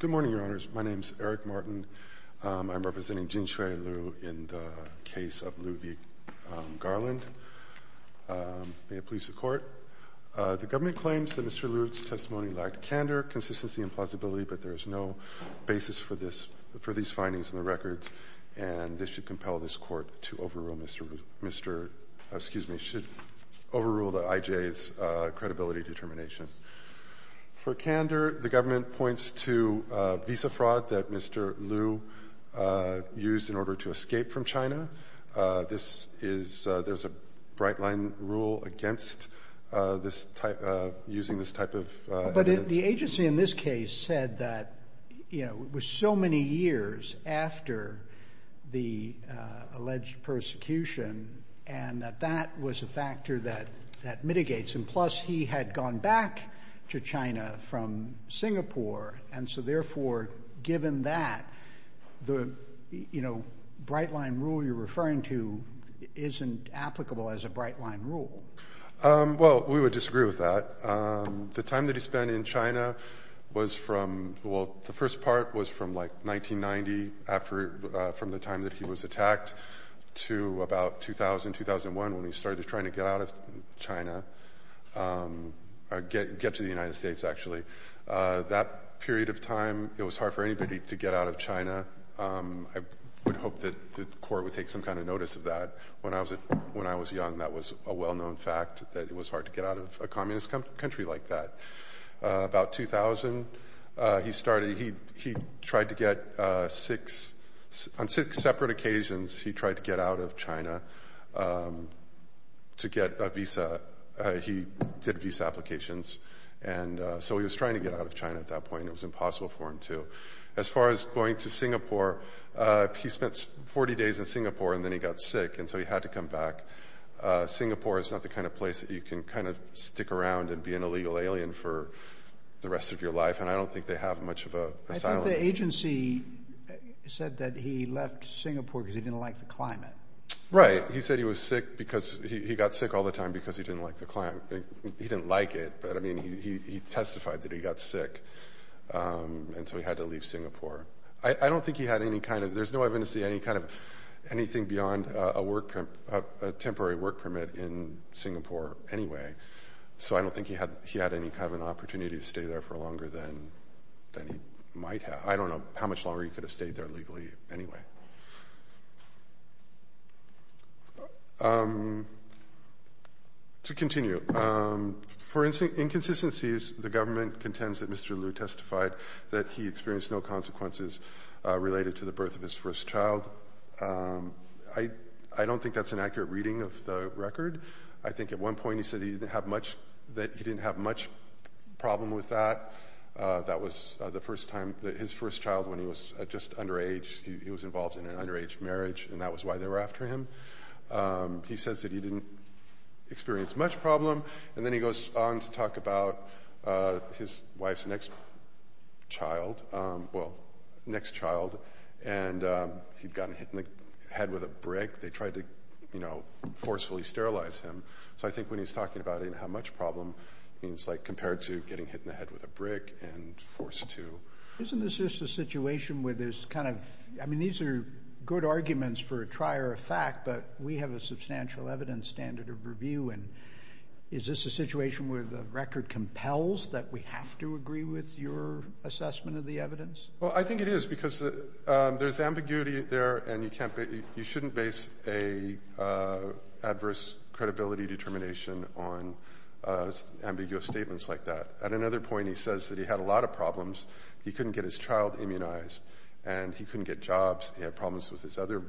Good morning, Your Honors. My name is Eric Martin. I'm representing Jinxue Liu in the case of Liu v. Garland. May it please the Court. The government claims that Mr. Liu's testimony lacked candor, consistency, and plausibility, but there is no basis for these findings in the records, and this should compel this Court to overrule the IJ's credibility determination. For candor, the government points to visa fraud that Mr. Liu used in order to escape from China. There's a bright-line rule against using this type of evidence. But the agency in this case said that it was so many years after the alleged persecution and that that was a factor that mitigates him. Plus, he had gone back to China from Singapore, and so therefore, given that, the bright-line rule you're referring to isn't applicable as a bright-line rule. Well, we would disagree with that. The time that he spent in China was from, the first part was from like 1990, from the time that he was attacked, to about 2000, 2001, when he started trying to get out of China, get to the United States, actually. That period of time, it was hard for anybody to get out of China. I would hope that the Court would take some kind of notice of that. When I was young, that was a well-known fact, that it was hard to get out of a communist country like that. About 2000, he started, he tried to get six, on six separate occasions, he tried to get out of China to get a visa. He did visa applications, and so he was trying to get out of China at that point. It was impossible for him to. As far as going to Singapore, he spent 40 days in Singapore, and then he got sick, and so he had to come back. Singapore is not the kind of place that you can kind of stick around and be an illegal alien for the rest of your life, and I don't think they have much of a... I think the agency said that he left Singapore because he didn't like the climate. Right. He said he was sick because, he got sick all the time because he didn't like the climate. He didn't like it, but I mean, he testified that he got sick, and so he had to leave Singapore. I don't think he had any kind of, there's no evidence to see anything beyond a temporary work permit in Singapore anyway, so I don't think he had any kind of an opportunity to stay there for longer than he might have. I don't know how much longer he could have stayed there legally anyway. To continue, for inconsistencies, the government contends that Mr. Liu testified that he experienced no consequences related to the birth of his first child. I don't think that's an accurate reading of the record. I think at one point he said that he didn't have much problem with that. That was the first time that his first child, when he was just underage, he was involved in an underage marriage, and that was why they were after him. He says that he didn't experience much problem, and then he goes on to talk about his wife's next child, and he'd gotten hit in the head with a brick. They tried to forcefully sterilize him, so I think when he's talking about how much problem, it's like compared to getting hit in the head with a brick and forced to. Isn't this just a situation where there's kind of, I mean, these are good arguments for a trier of fact, but we have a substantial evidence standard of review, and is this a situation where the record compels that we have to agree with your assessment of the evidence? Well, I think it is, because there's ambiguity there, and you shouldn't base an adverse credibility determination on ambiguous statements like that. At another point, he says that he had a lot of problems. He couldn't get his child immunized, and he couldn't get jobs. He had his other,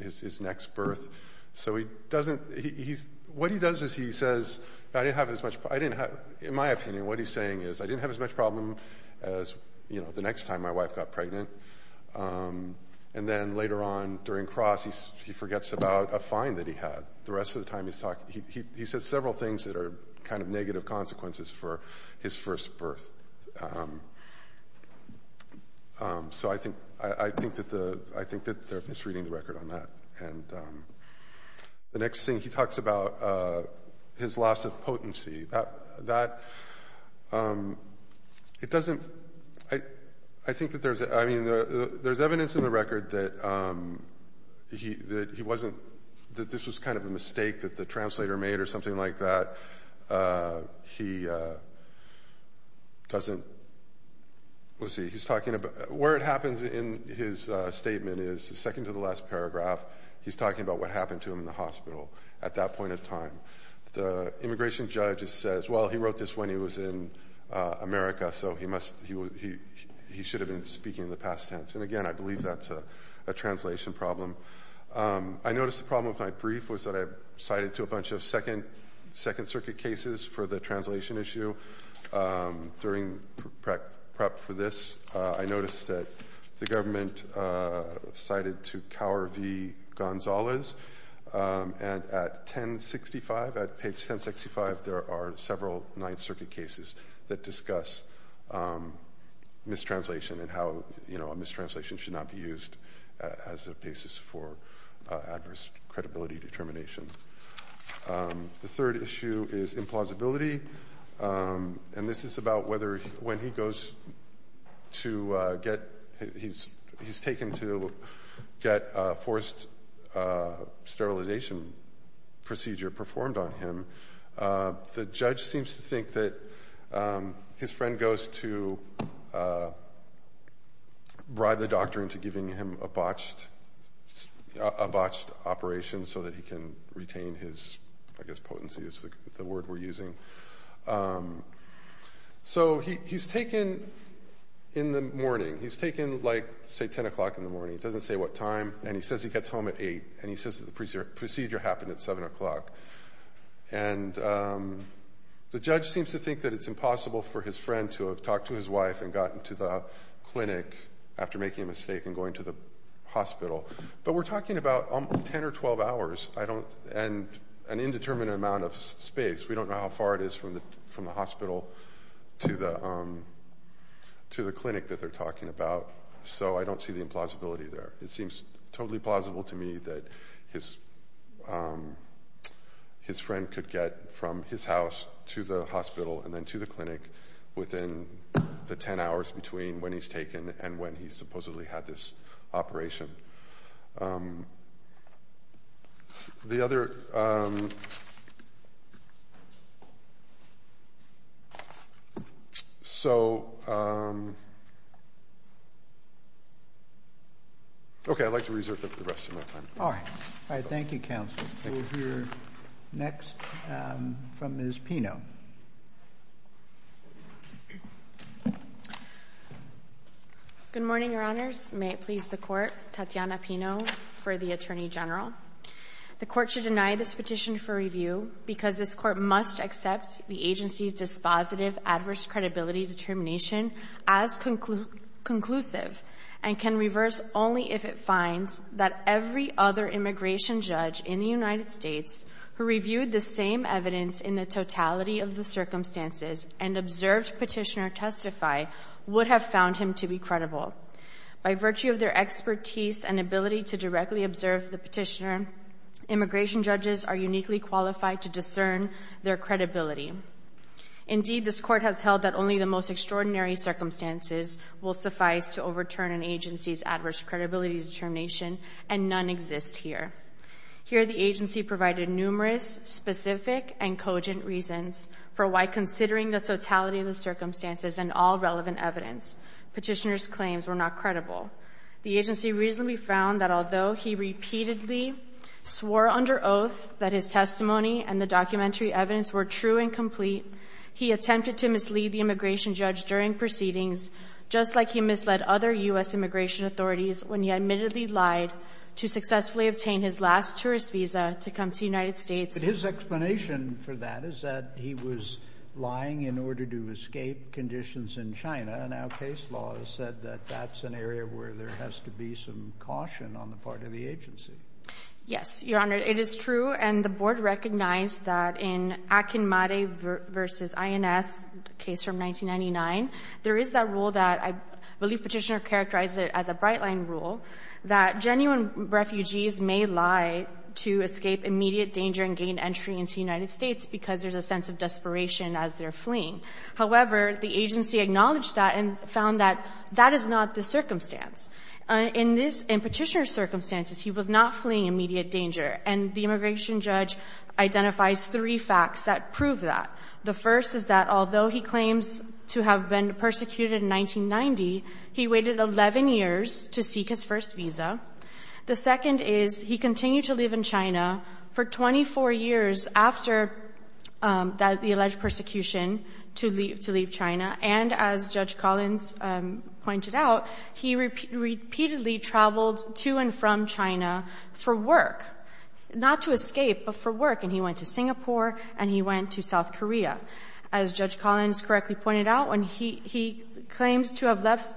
his next birth, so he doesn't, he's, what he does is he says, I didn't have as much, I didn't have, in my opinion, what he's saying is, I didn't have as much problem as, you know, the next time my wife got pregnant, and then later on during cross, he forgets about a fine that he had. The rest of the time he's talking, he says several things that are kind of negative consequences for his first birth. So I think, I think that the, I think that they're misreading the record on that, and the next thing he talks about, his loss of potency. That, it doesn't, I think that there's, I mean, there's evidence in the record that he, that he wasn't, that this was kind of a mistake that the translator made or something like that. He doesn't, let's see, he's talking about, where it happens in his statement is, the second to the last paragraph, he's talking about what happened to him in the hospital at that point of time. The immigration judge says, well, he wrote this when he was in America, so he must, he should have been speaking in the past tense, and again, I believe that's a translation problem. I noticed the problem with my brief was that I cited to a bunch of second, second circuit cases for the translation issue. During prep for this, I noticed that the government cited to Cower v. Gonzalez, and at 1065, at page 1065, there are several Ninth Circuit cases that discuss mistranslation and how, you know, a mistranslation should not be used as a basis for adverse credibility determination. The third issue is implausibility, and this is about whether, when he goes to get, he's taken to get a forced sterilization procedure performed on him, the judge seems to think that his friend goes to bribe the doctor into giving him a botched operation so that he can retain his, I guess potency is the word we're using. So he's taken in the morning, he's taken like, say 10 o'clock in the morning, it doesn't say what time, and he says he gets home at 8, and he says that the procedure happened at 7 o'clock. And the judge seems to think that it's impossible for his friend to have talked to his wife and gotten to the clinic after making a mistake and going to the hospital. But we're talking about 10 or 12 hours, I don't, and an indeterminate amount of space. We don't know how far it is from the hospital to the clinic that they're talking about, so I don't see the implausibility there. It seems totally plausible to me that his friend could get from his house to the hospital and then to the clinic within the 10 hours between when he's taken and when he supposedly had this operation. The other, so, okay, I'd like to reserve the rest of my time. All right. Thank you, Counsel. We'll hear next from Ms. Pino. Good morning, Your Honors. May it please the court, Tatiana Pino for the Attorney General. The court should deny this petition for review because this court must accept the agency's dispositive adverse credibility determination as conclusive and can reverse only if it finds that every other immigration judge in the United States who reviewed the same evidence in the totality of the circumstances and observed Petitioner testify would have found him to be credible. By virtue of their expertise and ability to directly observe the Petitioner, immigration judges are uniquely qualified to discern their credibility. Indeed, this court has held that only the most extraordinary circumstances will suffice to overturn an agency's adverse credibility determination, and none exist here. Here, the agency provided numerous specific and cogent reasons for why considering the totality of the circumstances and all relevant evidence, Petitioner's claims were not credible. The agency reasonably found that although he repeatedly swore under oath that his testimony and the documentary evidence were true and complete, he attempted to mislead the immigration judge during proceedings, just like he misled other U.S. immigration authorities when he admittedly lied to successfully obtain his last tourist visa to come to the United States. But his explanation for that is that he was lying in order to escape conditions in China, and now case law has said that that's an area where there has to be some caution on the part of the agency. Yes, Your Honor. It is true, and the Board recognized that in Akinmare v. INS, the case from 1999, there is that rule that I believe Petitioner characterized as a bright-line rule, that genuine refugees may lie to escape immediate danger and gain entry into the United States because there's a sense of desperation as they're fleeing. However, the agency acknowledged that and found that that is not the circumstance. In Petitioner's circumstances, he was not fleeing immediate danger, and the immigration judge identifies three facts that prove that. The first is that although he claims to have been persecuted in 1990, he waited 11 years to seek his first visa. The second is he continued to live in China for 24 years after the alleged persecution to leave China, and as Judge Collins pointed out, he repeatedly traveled to and from China for work, not to escape, but for work, and he went to Singapore and he went to South Korea. As Judge Collins correctly pointed out, when he claims to have left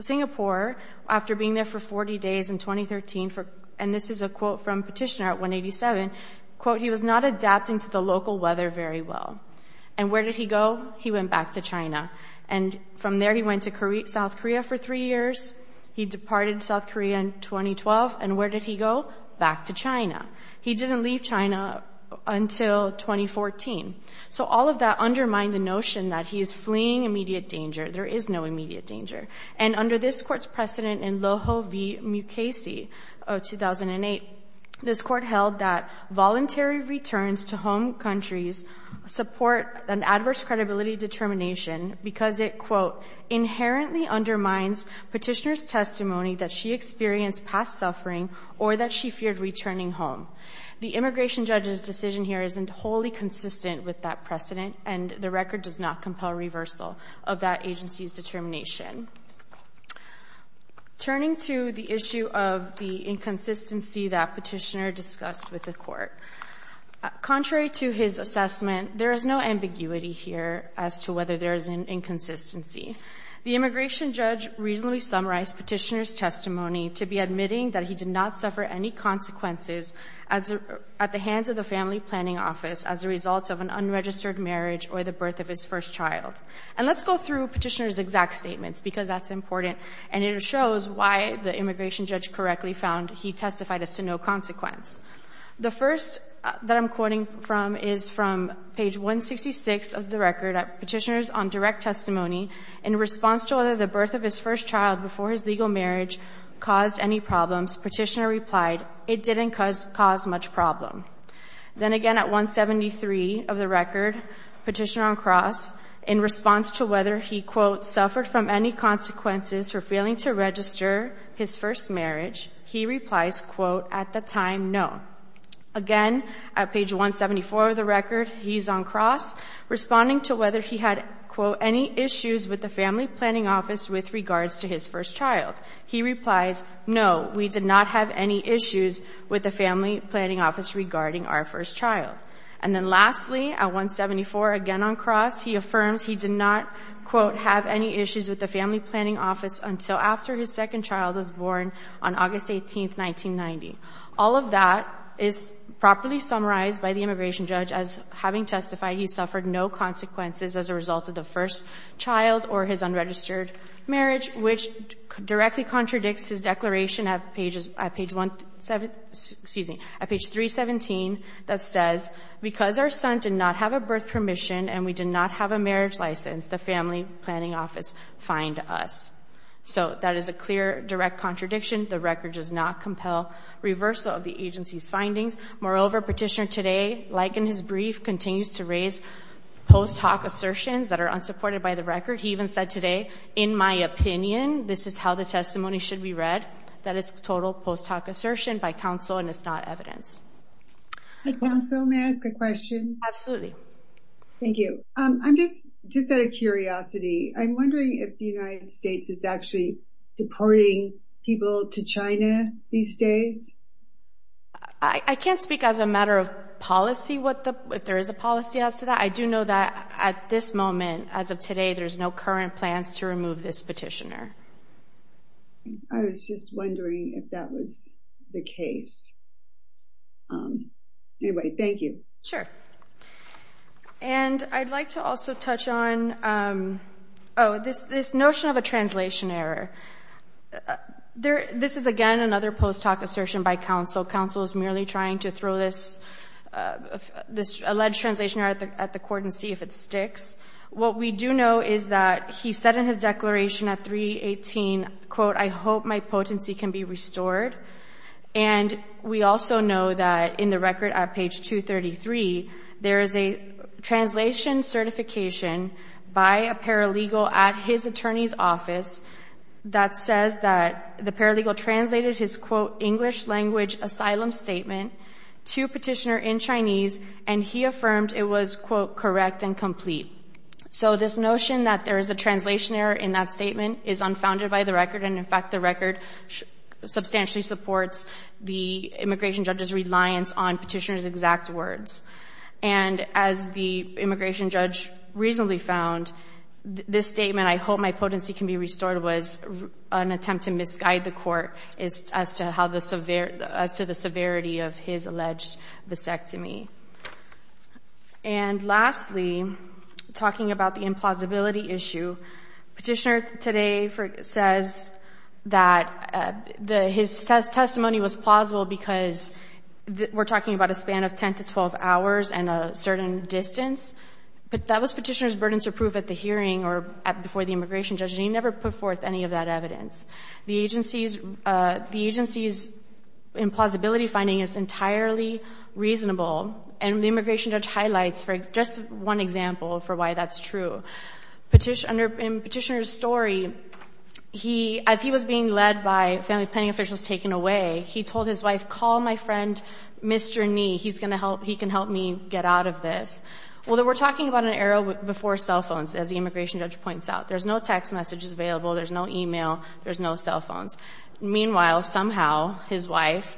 Singapore after being there for 40 days in 2013, and this is a quote from Petitioner at 187, quote, he was not adapting to the local weather very well. And where did he go? He went back to China. And from there, he went to South Korea for three years. He departed South Korea in 2012. And where did he go? Back to China. He didn't leave China until 2014. So all of that undermined the notion that he is fleeing immediate danger. There is no immediate danger. And under this Court's precedent in Loho v. Mukasey of 2008, this Court held that voluntary returns to home countries support an adverse credibility determination because it, quote, inherently undermines Petitioner's testimony that she experienced past suffering or that she feared returning home. The immigration judge's decision here isn't wholly consistent with that precedent, and the record does not compel reversal of that agency's determination. Turning to the issue of the inconsistency that Petitioner discussed with the Court, contrary to his assessment, there is no ambiguity here as to whether there is an inconsistency. The immigration judge reasonably summarized Petitioner's testimony to be admitting that he did not suffer any consequences at the hands of the family planning office as a result of an unregistered marriage or the birth of his first child. And let's go through Petitioner's exact statements because that's important, and it shows why the immigration judge correctly found he testified as to no consequence. The first that I'm quoting from is from page 166 of the record, Petitioner's on direct testimony in response to whether the birth of his first child before his legal marriage caused any problems. Petitioner replied, it didn't cause much problem. Then again at 173 of the record, Petitioner on cross, in response to whether he, quote, suffered from any consequences for failing to register his first marriage, he replies, quote, at the time, no. Again, at page 174 of the record, he's on cross, responding to whether he had, quote, any issues with the family planning office with regards to his first child. He replies, no, we did not have any issues with the family planning office regarding our first child. And then lastly, at 174, again on cross, he affirms he did not, quote, have any issues with the family planning office until after his second child was born on August 18th, 1990. All of that is properly summarized by the immigration judge as having testified he suffered no consequences as a result of the first child or his unregistered marriage, which directly contradicts his declaration at pages, at page 17, excuse me, at page 317 that says, because our son did not have a birth permission and we did not have a marriage license, the family planning office fined us. So that is a clear direct contradiction. The record does not compel reversal of the agency's findings. Moreover, Petitioner today, like in his brief, continues to raise post hoc assertions that are unsupported by the record. He even said today, in my opinion, this is how the testimony should be read. That is total post hoc assertion by counsel and it's not evidence. Counsel, may I ask a question? Thank you. I'm just just out of curiosity. I'm wondering if the United States is actually deporting people to China these days. I can't speak as a matter of policy. If there is a policy as to that, I do know that at this moment, as of today, there's no current plans to remove this petitioner. I was just wondering if that was the case. Anyway, thank you. And I'd like to also touch on this notion of a translation error. This is again another post hoc assertion by counsel. Counsel is merely trying to throw this alleged translation error at the court and see if it sticks. What we do know is that he said in his declaration at 318, quote, I hope my potency can be restored. And we also know that in the record at page 233, there is a translation certification by a paralegal at his attorney's office that says that the paralegal translated his, quote, English language asylum statement to petitioner in Chinese, and he affirmed it was, quote, correct and complete. So this notion that there is a translation error in that statement is unfounded by the record. And in fact, the record substantially supports the immigration judge's reliance on petitioner's exact words. And as the immigration judge reasonably found, this statement, I hope my potency can be restored, was an attempt to misguide the court as to the severity of his alleged vasectomy. And lastly, talking about the implausibility issue, petitioner today says that his testimony was plausible because we're talking about a span of 10 to 12 hours and a certain distance, but that was petitioner's burden to prove at the hearing or before the immigration judge, and he never put forth any of that evidence. The agency's implausibility finding is entirely reasonable, and the immigration judge highlights just one example for why that's true. In petitioner's story, as he was being led by family planning officials taken away, he told his wife, call my friend Mr. Nee. He can help me get out of this. Well, we're talking about an era before cell phones, as the immigration judge points out. There's no text messages available. There's no e-mail. There's no cell phones. Meanwhile, somehow, his wife,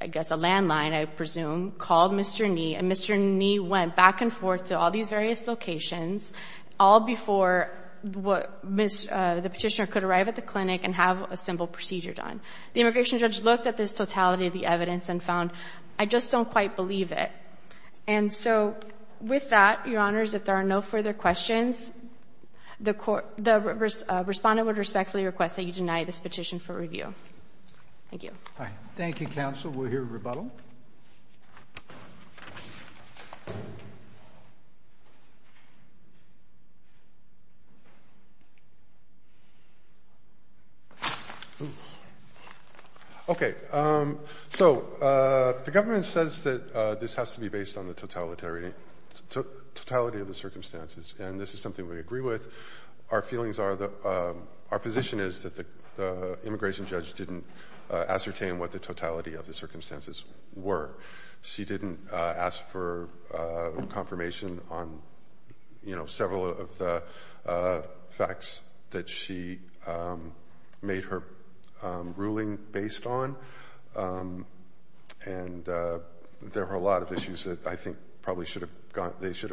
I guess a landline, I presume, called Mr. Nee, and Mr. Nee went back and forth to all these various locations, all before the petitioner could arrive at the clinic and have a simple procedure done. The immigration judge looked at this totality of the evidence and found, I just don't quite believe it. And so with that, Your Honors, if there are no further questions, the Respondent would respectfully request that you deny this petition for review. Thank you. Thank you, Counsel. We'll hear rebuttal. Okay. So the government says that this has to be based on the totality of the circumstances, and this is something we agree with. Our position is that the immigration judge didn't ascertain what the totality of the circumstances were. She didn't ask for confirmation on several of the facts that she made her ruling based on, and there were a lot of issues that I think probably should have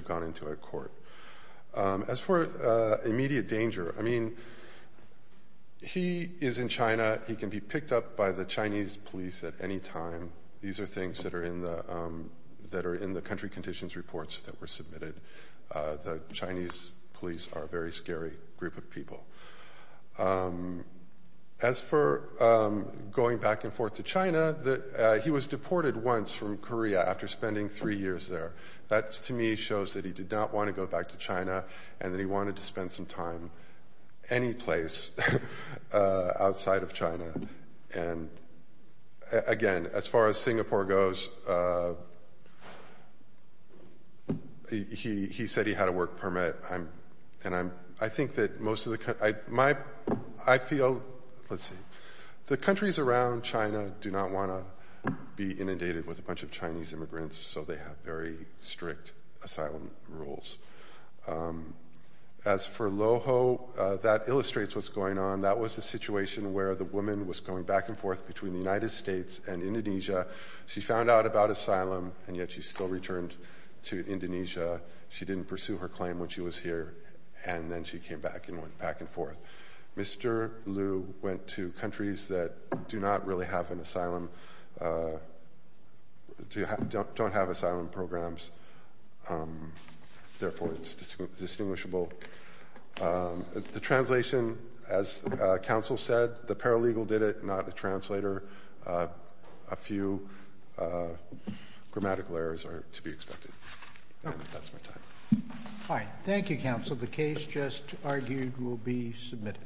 gone into a court. As for immediate danger, I mean, he is in China. He can be picked up by the Chinese police at any time. These are things that are in the country conditions reports that were submitted. The Chinese police are a very scary group of people. As for going back and forth to China, he was deported once from Korea after spending three years there. That, to me, shows that he did not want to go back to China and that he wanted to spend some time any place outside of China. And, again, as far as Singapore goes, he said he had a work permit, and I think that most of the country – I feel – let's see. The countries around China do not want to be inundated with a bunch of Chinese immigrants, so they have very strict asylum rules. As for Loho, that illustrates what's going on. That was a situation where the woman was going back and forth between the United States and Indonesia. She found out about asylum, and yet she still returned to Indonesia. She didn't pursue her claim when she was here, and then she came back and went back and forth. Mr. Lu went to countries that do not really have an asylum – don't have asylum programs, therefore it's distinguishable. The translation, as counsel said, the paralegal did it, not the translator. A few grammatical errors are to be expected. That's my time. All right. Thank you, counsel. The case just argued will be submitted.